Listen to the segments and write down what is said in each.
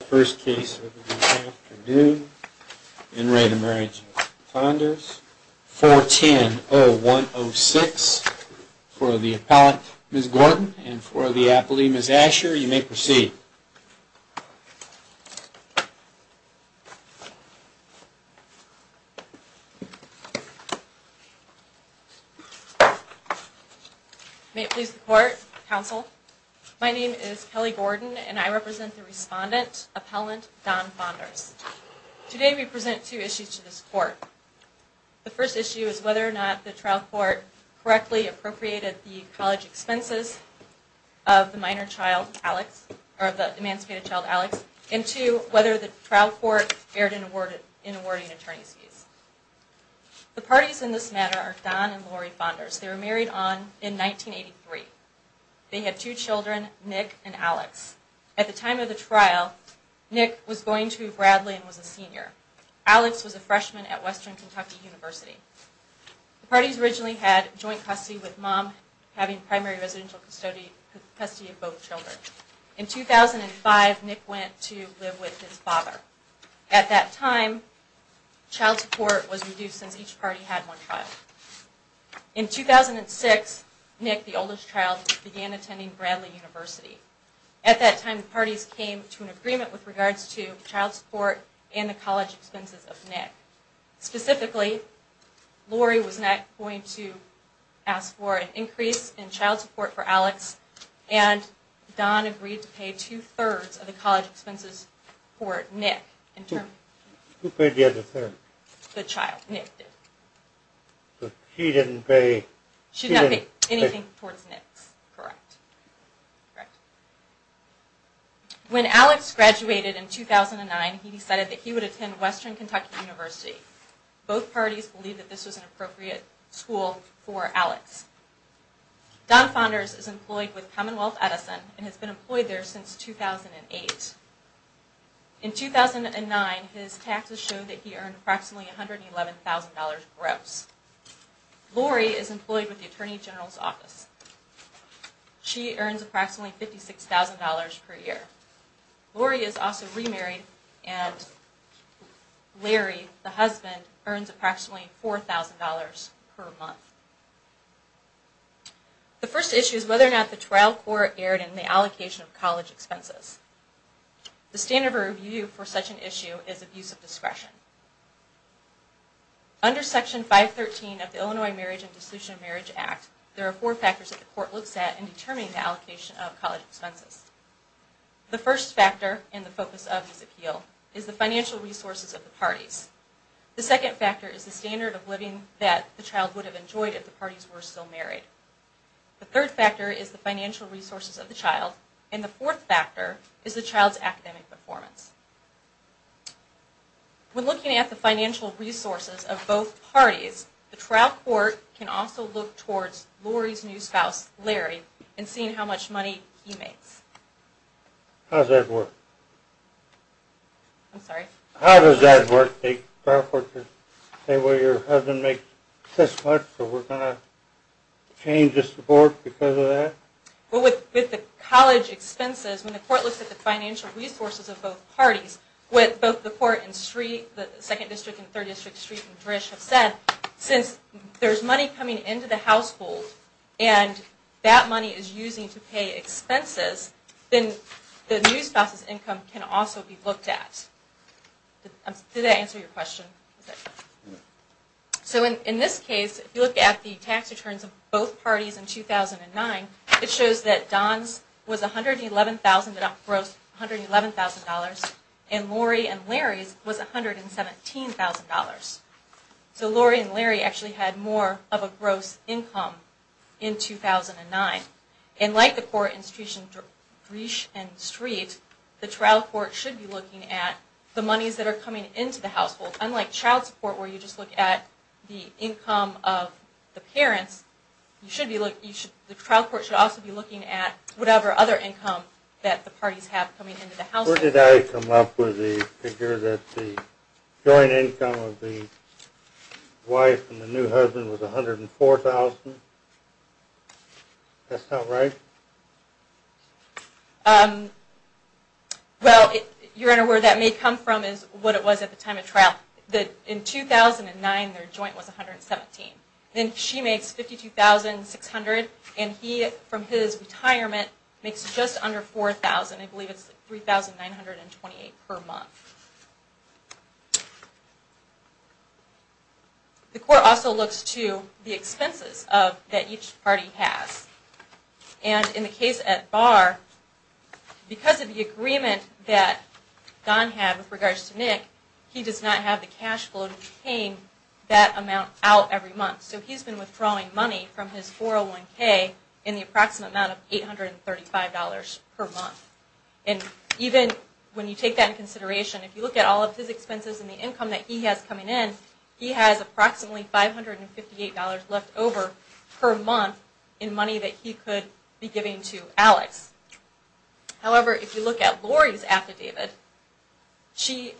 The first case of the afternoon, in re the Marriage of Fahnders, 410106, for the appellate Ms. Gordon and for the appellee Ms. Asher, you may proceed. May it please the court, counsel. My name is Kelly Gordon and I represent the respondent, appellant Don Fahnders. Today we present two issues to this court. The first issue is whether or not the trial court correctly appropriated the college expenses of the minor child Alex, or the emancipated child Alex, and two, whether the trial court erred in awarding attorney's fees. The parties in this matter are Don and Lori Fahnders. They were married in 1983. They had two children, Nick and Alex. At the time of the trial, Nick was going to Bradley and was a senior. Alex was a freshman at Western Kentucky University. The parties originally had joint custody with mom, having primary residential custody of both children. In 2005, Nick went to live with his father. At that time, child support was reduced since each party had one child. In 2006, Nick, the oldest child, began attending Bradley University. At that time, the parties came to an agreement with regards to child support and the college expenses of Nick. Specifically, Lori was not going to ask for an increase in child support for Alex, and Don agreed to pay two-thirds of the college expenses for Nick. When Alex graduated in 2009, he decided that he would attend Western Kentucky University. Both parties believed that this was an appropriate school for Alex. Don Fahnders is employed with Commonwealth Edison and has been employed there since 2008. In 2009, his taxes showed that he earned approximately $111,000 gross. Lori is employed with the Attorney General's Office. She earns approximately $56,000 per year. Lori is also remarried and Larry, the husband, earns approximately $4,000 per month. The first issue is whether or not the trial court erred in the allocation of college expenses. The standard of review for such an issue is abuse of discretion. Under Section 513 of the Illinois Marriage and Dissolution of Marriage Act, there are four factors that the court looks at in determining the allocation of college expenses. The first factor, and the focus of this appeal, is the financial resources of the parties. The second factor is the standard of living that the child would have enjoyed if the parties were still married. The third factor is the financial resources of the child, and the fourth factor is the child's academic performance. When looking at the financial resources of both parties, the trial court can also look towards Lori's new spouse, Larry, and see how much money he makes. How does that work? I'm sorry? How does that work? The trial court can say, well, your husband makes this much, so we're going to change the support because of that? Well, with the college expenses, when the court looks at the financial resources of both parties, with both the court and the Second District and Third District, Street and Drish have said, since there's money coming into the household and that money is used to pay expenses, then the new spouse's income can also be looked at. Did that answer your question? In this case, if you look at the tax returns of both parties in 2009, it shows that Don's was $111,000, and Lori and Larry's was $117,000. So Lori and Larry actually had more of a gross income in 2009. And like the court in Street and Drish, the trial court should be looking at the monies that are coming into the household. Unlike child support, where you just look at the income of the parents, the trial court should also be looking at whatever other income that the parties have coming into the household. Where did I come up with the figure that the joint income of the wife and the new husband was $104,000? That's not right? Well, your Honor, where that may come from is what it was at the time of trial. In 2009, their joint was $117,000. Then she makes $52,600 and he, from his retirement, makes just under $4,000. I believe it's $3,928 per month. The court also looks to the expenses that each party has. And in the case at Barr, because of the agreement that Don had with regards to Nick, he does not have the cash flow to be paying that amount out every month. So he's been withdrawing money from his 401k in the approximate amount of $835 per month. And even when you take that into consideration, if you look at all of his expenses and the income that he has coming in, he has approximately $558 left over per month in money that he could be giving to Alex. However, if you look at Lori's affidavit, she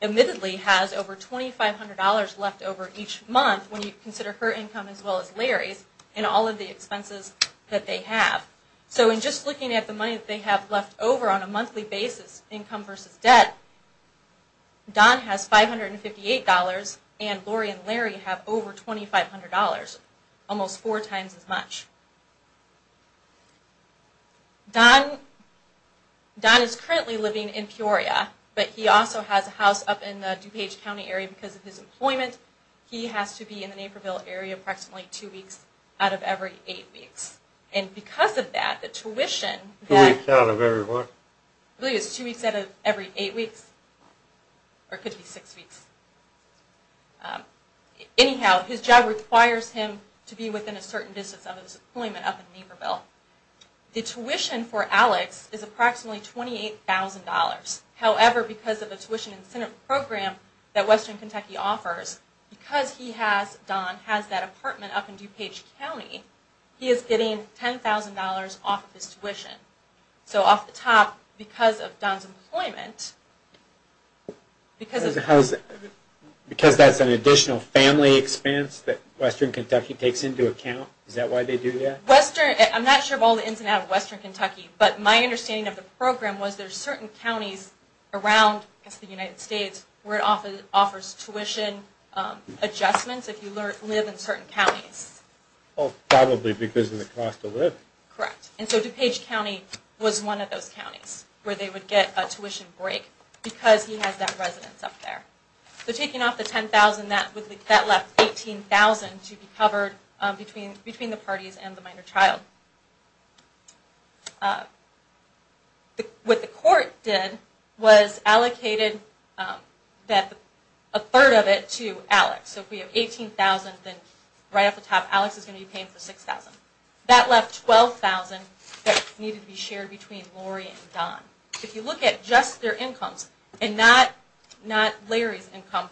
admittedly has over $2,500 left over each month when you consider her income as well as Larry's and all of the expenses that they have. So in just looking at the money that they have left over on a monthly basis, income versus debt, Don has $558 and Lori and Larry have over $2,500, almost four times as much. Don is currently living in Peoria, but he also has a house up in the DuPage County area because of his employment. He has to be in the Naperville area approximately two weeks out of every eight weeks. And because of that, the tuition... Two weeks out of every what? I believe it's two weeks out of every eight weeks, or it could be six weeks. Anyhow, his job requires him to be within a certain distance of his employment up in Naperville. The tuition for Alex is approximately $28,000. However, because of the tuition incentive program that Western Kentucky offers, because Don has that apartment up in DuPage County, he is getting $10,000 off of his tuition. So off the top, because of Don's employment... Because that's an additional family expense that Western Kentucky takes into account? Is that why they do that? I'm not sure of all the ins and outs of Western Kentucky, but my understanding of the program was there are certain counties around the United States where it offers tuition adjustments if you live in certain counties. Oh, probably because of the cost of living. Correct. And so DuPage County was one of those counties where they would get a tuition break because he has that residence up there. So taking off the $10,000, that left $18,000 to be covered between the parties and the minor child. What the court did was allocated a third of it to Alex. So if we have $18,000, then right off the top, Alex is going to be paying for $6,000. That left $12,000 that needed to be shared between Lori and Don. If you look at just their incomes and not Larry's income,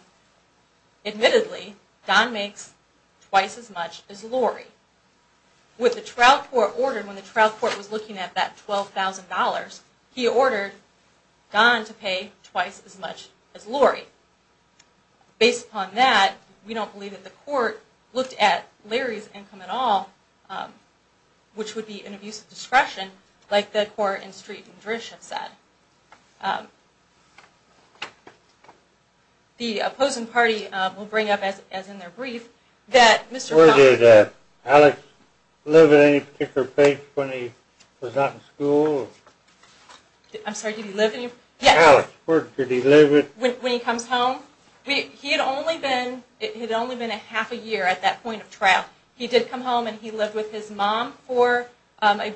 admittedly, Don makes twice as much as Lori. What the trial court ordered when the trial court was looking at that $12,000, he ordered Don to pay twice as much as Lori. Based upon that, we don't believe that the court looked at Larry's income at all, which would be an abuse of discretion like the court in Street and Drish have said. The opposing party will bring up, as in their brief, that Mr. Connelly... Did Alex live at any particular place when he was not in school? I'm sorry, did he live any... Alex, where did he live at? When he comes home? He had only been a half a year at that point of trial. He did come home and he lived with his mom for, I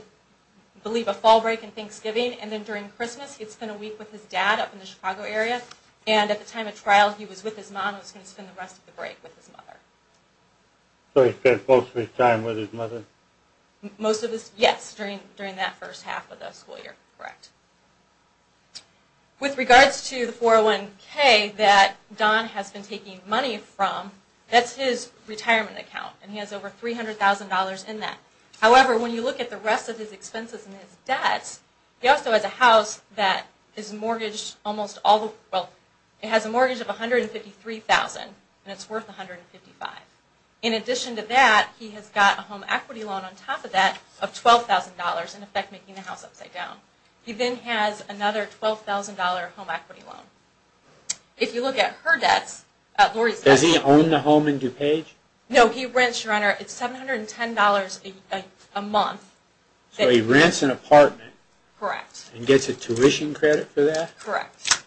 believe, a fall break and Thanksgiving. Then during Christmas, he'd spend a week with his dad up in the Chicago area. At the time of trial, he was with his mom. He was going to spend the rest of the break with his mother. So he spent most of his time with his mother? Yes, during that first half of the school year, correct. With regards to the 401K that Don has been taking money from, that's his retirement account, and he has over $300,000 in that. However, when you look at the rest of his expenses and his debts, he also has a house that has a mortgage of $153,000 and it's worth $155,000. In addition to that, he has got a home equity loan on top of that of $12,000, in effect making the house upside down. He then has another $12,000 home equity loan. If you look at her debts... Does he own the home in DuPage? No, he rents, Your Honor, it's $710 a month. So he rents an apartment? Correct. And gets a tuition credit for that? Correct.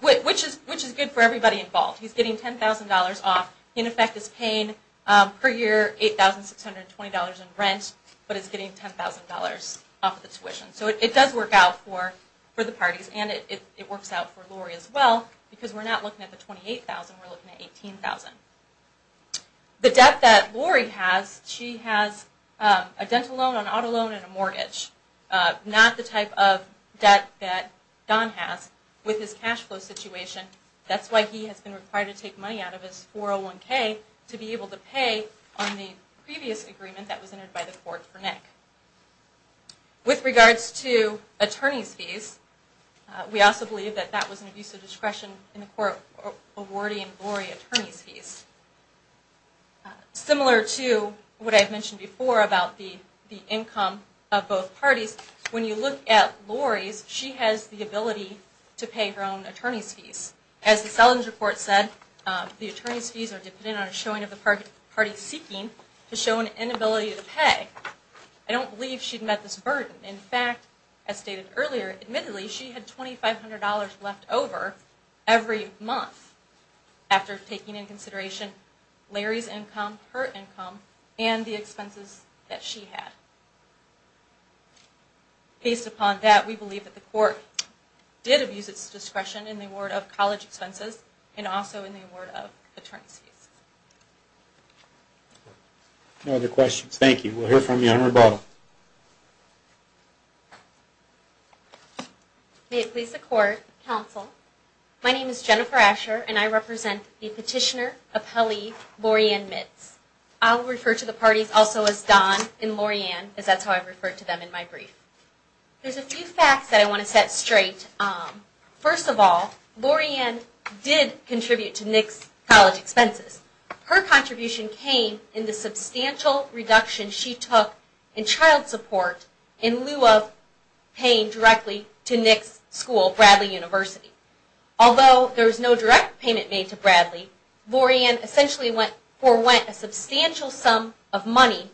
Which is good for everybody involved. He's getting $10,000 off. In effect, he's paying per year $8,620 in rent, but he's getting $10,000 off of the tuition. So it does work out for the parties, and it works out for Lori as well, because we're not looking at the $28,000, we're looking at $18,000. The debt that Lori has, she has a dental loan, an auto loan, and a mortgage. Not the type of debt that Don has with his cash flow situation. That's why he has been required to take money out of his 401k to be able to pay on the previous agreement that was entered by the court for Nick. With regards to attorney's fees, we also believe that that was an abuse of discretion in the court awarding Lori attorney's fees. Similar to what I mentioned before about the income of both parties, when you look at Lori's, she has the ability to pay her own attorney's fees. As the Selins report said, the attorney's fees are dependent on a showing of the party seeking to show an inability to pay. I don't believe she'd met this burden. In fact, as stated earlier, admittedly she had $2,500 left over every month after taking into consideration Larry's income, her income, and the expenses that she had. Based upon that, we believe that the court did abuse its discretion in the award of college expenses, and also in the award of attorney's fees. No other questions, thank you. We'll hear from you on rebuttal. May it please the court, counsel. My name is Jennifer Asher, and I represent the petitioner, appellee, Loriann Mitz. I'll refer to the parties also as Don and Loriann, as that's how I've referred to them in my brief. There's a few facts that I want to set straight. First of all, Loriann did contribute to Nick's college expenses. Her contribution came in the substantial reduction she took in child support in lieu of paying directly to Nick's school, Bradley University. Although there was no direct payment made to Bradley, Loriann essentially forwent a substantial sum of money,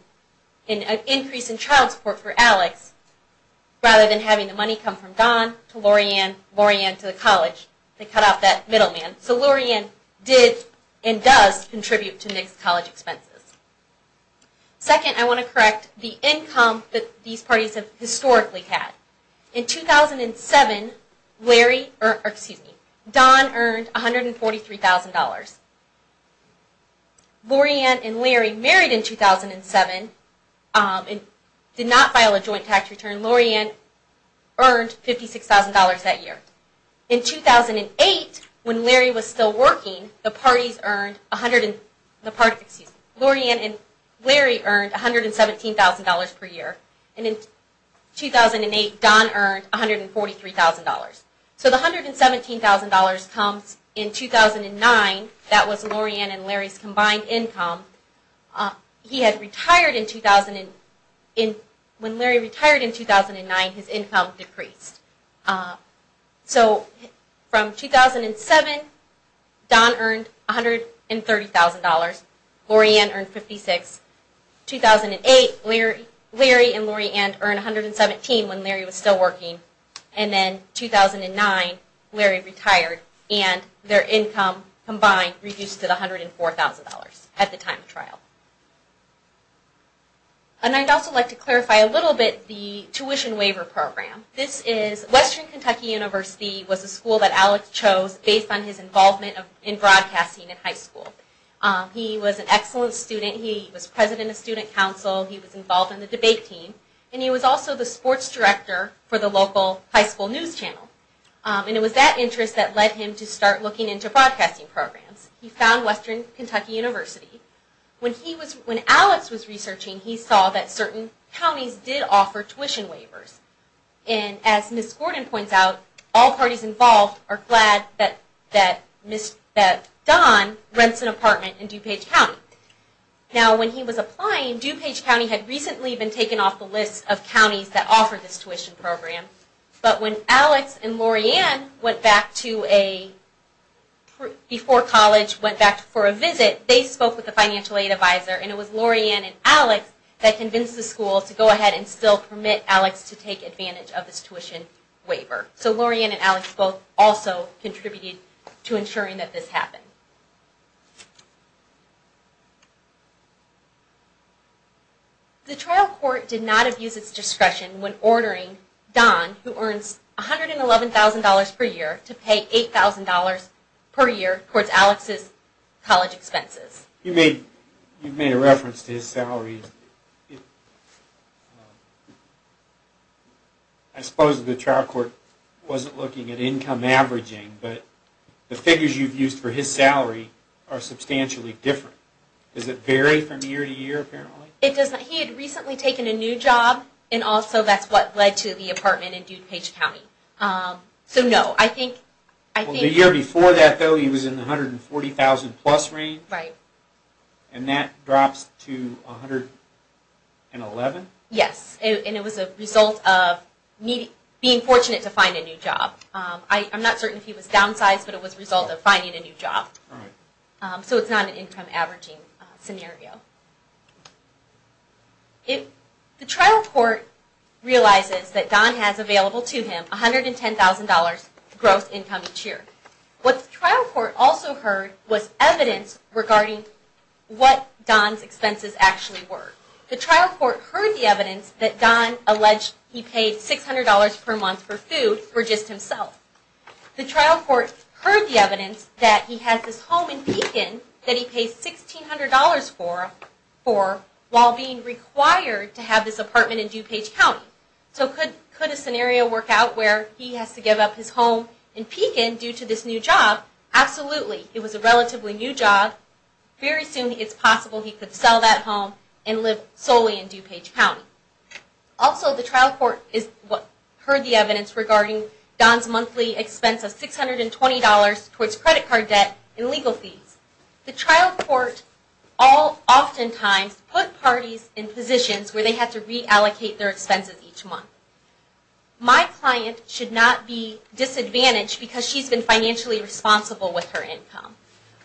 an increase in child support for Alex, rather than having the money come from Don to Loriann, Loriann to the college. They cut off that middleman. So Loriann did and does contribute to Nick's college expenses. Second, I want to correct the income that these parties have historically had. Loriann and Larry married in 2007 and did not file a joint tax return. Loriann earned $56,000 that year. In 2008, when Larry was still working, Loriann and Larry earned $117,000 per year. And in 2008, Don earned $143,000. So the $117,000 comes in 2009. That was Loriann and Larry's combined income. When Larry retired in 2009, his income decreased. So from 2007, Don earned $130,000. Loriann earned $56,000. In 2008, Larry and Loriann earned $117,000 when Larry was still working. And then in 2009, Larry retired and their income combined reduced to $104,000 at the time of trial. And I'd also like to clarify a little bit the tuition waiver program. Western Kentucky University was a school that Alex chose based on his involvement in broadcasting in high school. He was an excellent student. He was president of student council. He was involved in the debate team. And he was also the sports director for the local high school news channel. And it was that interest that led him to start looking into broadcasting programs. He found Western Kentucky University. When Alex was researching, he saw that certain counties did offer tuition waivers. And as Ms. Gordon points out, all parties involved are glad that Don rents an apartment in DuPage County. Now when he was applying, DuPage County had recently been taken off the list of counties that offered this tuition program. But when Alex and Loriann went back to a, before college, went back for a visit, they spoke with a financial aid advisor. And it was Loriann and Alex that convinced the school to go ahead and still permit Alex to take advantage of this tuition waiver. So Loriann and Alex both also contributed to ensuring that this happened. The trial court did not abuse its discretion when ordering Don, who earns $111,000 per year, to pay $8,000 per year towards Alex's college expenses. You've made a reference to his salary. I suppose the trial court wasn't looking at income averaging, but the figures you've used for his salary are substantially different. Does it vary from year to year, apparently? He had recently taken a new job, and also that's what led to the apartment in DuPage County. The year before that, though, he was in the $140,000 plus range, and that drops to $111,000? Yes, and it was a result of me being fortunate to find a new job. I'm not certain if he was downsized, but it was a result of finding a new job. So it's not an income averaging scenario. The trial court realizes that Don has available to him $110,000 gross income each year. What the trial court also heard was evidence regarding what Don's expenses actually were. The trial court heard the evidence that Don alleged he paid $600 per month for food for just himself. The trial court heard the evidence that he has this home in Pekin that he pays $1,600 for while being required to have this apartment in DuPage County. So could a scenario work out where he has to give up his home in Pekin due to this new job? Absolutely. It was a relatively new job. Very soon it's possible he could sell that home and live solely in DuPage County. Also, the trial court heard the evidence regarding Don's monthly expense of $620 towards credit card debt and legal fees. The trial court oftentimes put parties in positions where they have to reallocate their expenses each month. My client should not be disadvantaged because she's been financially responsible with her income.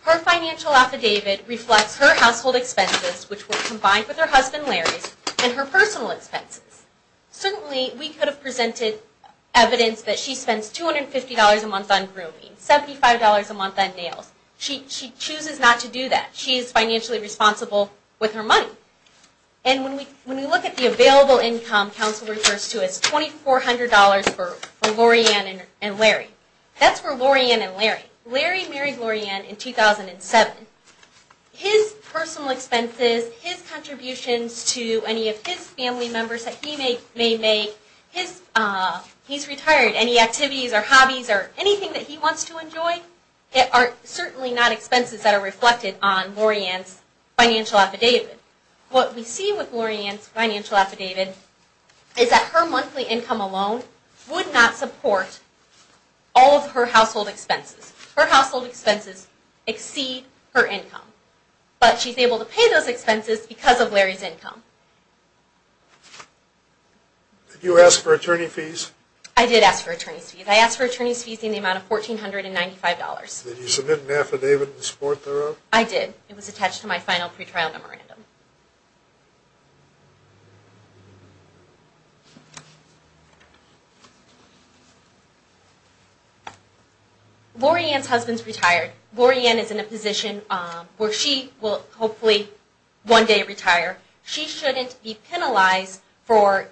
Her financial affidavit reflects her household expenses, which were combined with her husband Larry's, and her personal expenses. Certainly, we could have presented evidence that she spends $250 a month on grooming, $75 a month on nails. She chooses not to do that. She is financially responsible with her money. And when we look at the available income counsel refers to as $2,400 for Laurieann and Larry. That's for Laurieann and Larry. Larry married Laurieann in 2007. His personal expenses, his contributions to any of his family members that he may make, he's retired, any activities or hobbies or anything that he wants to enjoy, are certainly not expenses that are reflected on Laurieann's financial affidavit. What we see with Laurieann's financial affidavit is that her monthly income alone would not support all of her household expenses. Her household expenses exceed her income. But she's able to pay those expenses because of Larry's income. Did you ask for attorney fees? I did ask for attorney fees. I asked for attorney fees in the amount of $1,495. Did you submit an affidavit in support thereof? I did. It was attached to my final pretrial memorandum. Laurieann's husband's retired. Laurieann is in a position where she will hopefully one day retire. She shouldn't be penalized for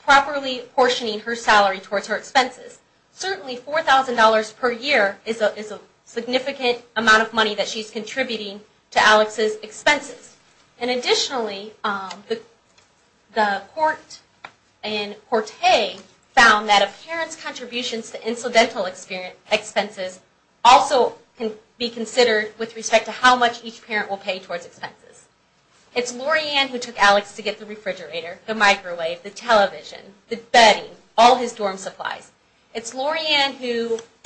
properly portioning her salary towards her expenses. Certainly $4,000 per year is a significant amount of money that she's contributing to Alex's expenses. Additionally, the court in Corte found that a parent's contributions to incidental expenses also can be considered with respect to how much each parent will pay towards expenses. It's Laurieann who took Alex to get the refrigerator, the microwave, the television, the bedding, all his dorm supplies. It's Laurieann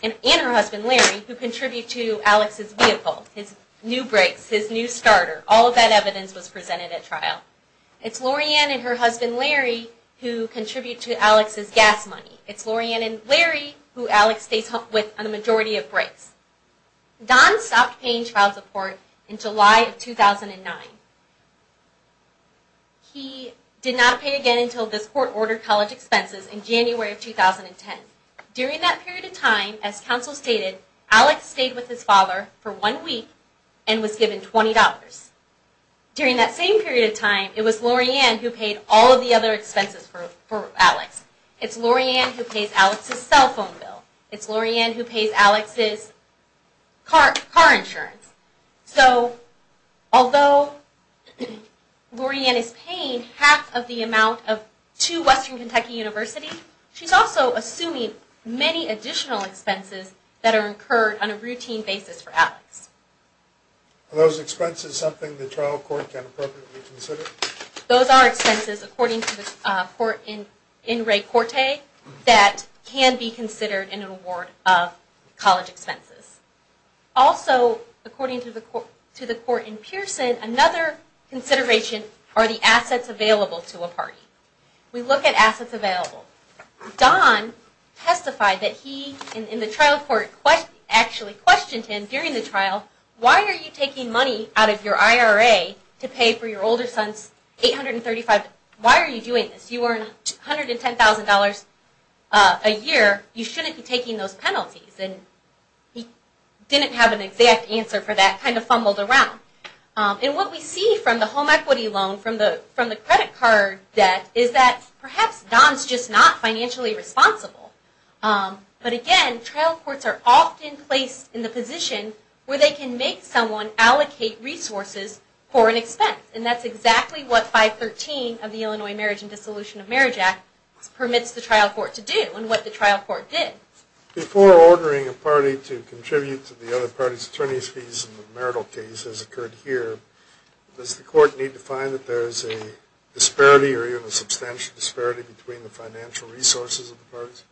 and her husband Larry who contribute to Alex's vehicle, his new brakes, his new starter. All of that evidence was presented at trial. It's Laurieann and her husband Larry who contribute to Alex's gas money. It's Laurieann and Larry who Alex stays with on a majority of breaks. Don stopped paying child support in July of 2009. He did not pay again until this court ordered college expenses in January of 2010. During that period of time, as counsel stated, Alex stayed with his father for one week and was given $20. During that same period of time, it was Laurieann who paid all of the other expenses for Alex. It's Laurieann who pays Alex's cell phone bill. It's Laurieann who pays Alex's car insurance. So, although Laurieann is paying half of the amount to Western Kentucky University, she's also assuming many additional expenses that are incurred on a routine basis for Alex. Are those expenses something the trial court can appropriately consider? Those are expenses, according to the court in Ray Corte, that can be considered in an award of college expenses. Also, according to the court in Pearson, another consideration are the assets available to a party. We look at assets available. Don testified that he, in the trial court, actually questioned him during the trial Why are you taking money out of your IRA to pay for your older son's $835,000? Why are you doing this? You earn $110,000 a year. You shouldn't be taking those penalties. He didn't have an exact answer for that, kind of fumbled around. What we see from the home equity loan, from the credit card debt, is that perhaps Don's just not financially responsible. But again, trial courts are often placed in the position where they can make someone allocate resources for an expense. And that's exactly what 513 of the Illinois Marriage and Dissolution of Marriage Act permits the trial court to do, and what the trial court did. Before ordering a party to contribute to the other party's attorney's fees in the marital case as occurred here, does the court need to find that there is a disparity or even a substantial disparity between the financial resources of the parties?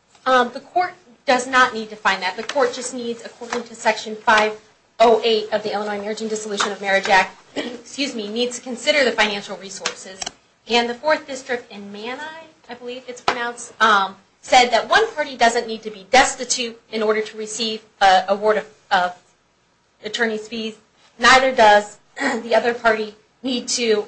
The court does not need to find that. The court just needs, according to Section 508 of the Illinois Marriage and Dissolution of Marriage Act, needs to consider the financial resources. And the 4th District in Mani, I believe it's pronounced, said that one party doesn't need to be destitute in order to receive an award of attorney's fees. Neither does the other party need to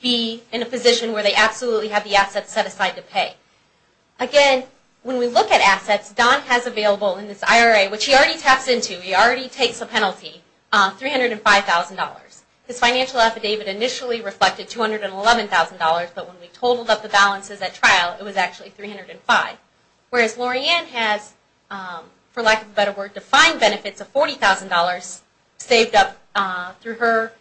be in a position where they absolutely have the assets set aside to pay. And when we look at assets, Don has available in this IRA, which he already taps into, he already takes a penalty, $305,000. His financial affidavit initially reflected $211,000, but when we totaled up the balances at trial, it was actually $305,000. Whereas Lorianne has, for lack of a better word, defined benefits of $40,000 saved up through her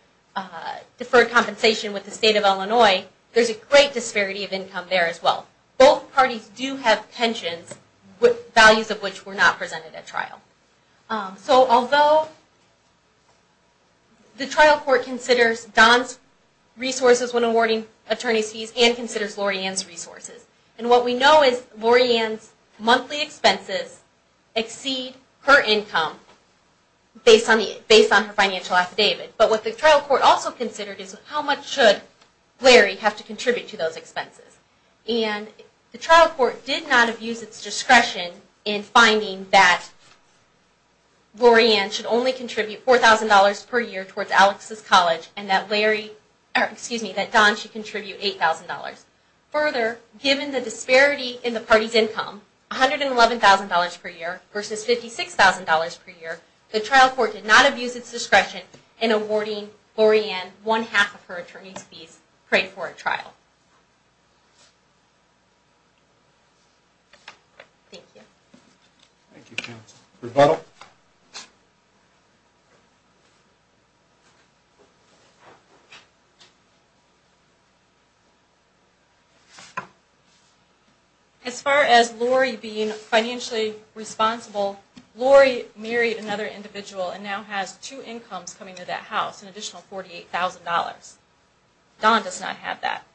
deferred compensation with the State of Illinois, there's a great disparity of income there as well. Both parties do have pensions, values of which were not presented at trial. So although the trial court considers Don's resources when awarding attorney's fees and considers Lorianne's resources. And what we know is Lorianne's monthly expenses exceed her income based on her financial affidavit. But what the trial court also considered is how much should Larry have to contribute to those expenses. And the trial court did not abuse its discretion in finding that Lorianne should only contribute $4,000 per year towards Alex's college and that Don should contribute $8,000. Further, given the disparity in the party's income, $111,000 per year versus $56,000 per year, the trial court did not abuse its discretion in awarding Lorianne one half of her attorney's fees paid for at trial. Thank you. As far as Lori being financially responsible, Lori married another individual and now has two incomes coming to that house, an additional $48,000. Don does not have that.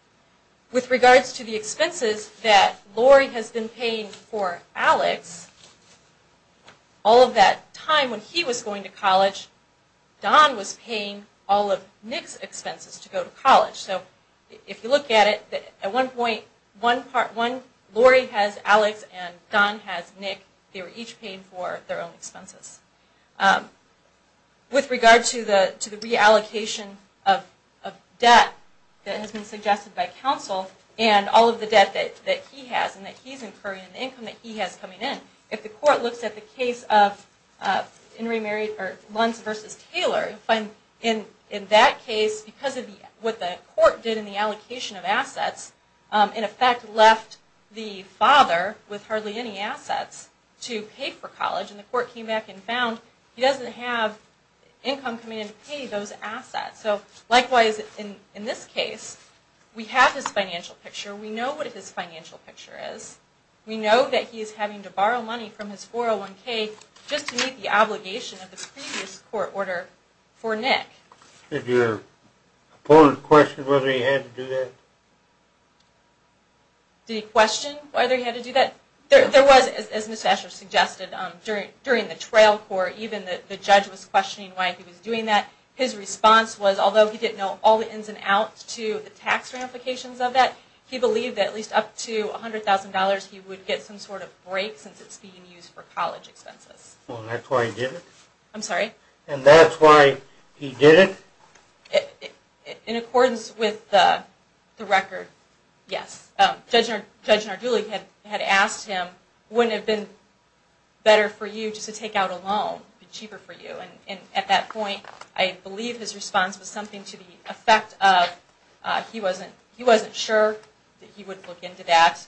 With regards to the expenses that Lori has been paying for Alex, all of that time when he was going to college, Don was paying all of Nick's expenses to go to college. So if you look at it, at one point, Lori has Alex and Don has Nick. They were each paying for their own expenses. With regard to the reallocation of debt that has been suggested by counsel and all of the debt that he has and that he is incurring and the income that he has coming in, if the court looks at the case of Luntz v. Taylor, in that case, because of what the court did in the allocation of assets, in effect left the father with hardly any assets to pay for college and the court came back and found he doesn't have income coming in to pay those assets. Likewise, in this case, we have his financial picture. We know what his financial picture is. We know that he is having to borrow money from his 401k just to meet the obligation of the previous court order for Nick. Did your opponent question whether he had to do that? Did he question whether he had to do that? There was, as Ms. Asher suggested, during the trail court, even the judge was questioning why he was doing that. His response was, although he didn't know all the ins and outs to the tax ramifications of that, he believed that at least up to $100,000 he would get some sort of break since it's being used for college expenses. And that's why he did it? And that's why he did it? In accordance with the record, yes. Judge Nardulli had asked him, wouldn't it have been better for you just to take out a loan? It would have been cheaper for you. At that point, I believe his response was something to the effect of he wasn't sure that he would look into that.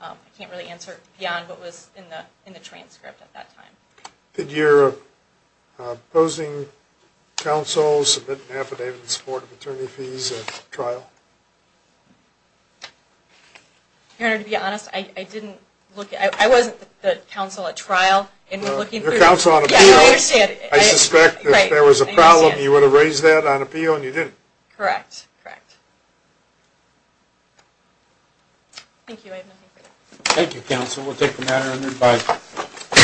I can't really answer beyond what was in the transcript at that time. Did your opposing counsel submit an affidavit in support of attorney fees at trial? Your Honor, to be honest, I wasn't the counsel at trial. Your counsel on appeal. I understand. I suspect if there was a problem, you would have raised that on appeal and you didn't. Correct. Thank you.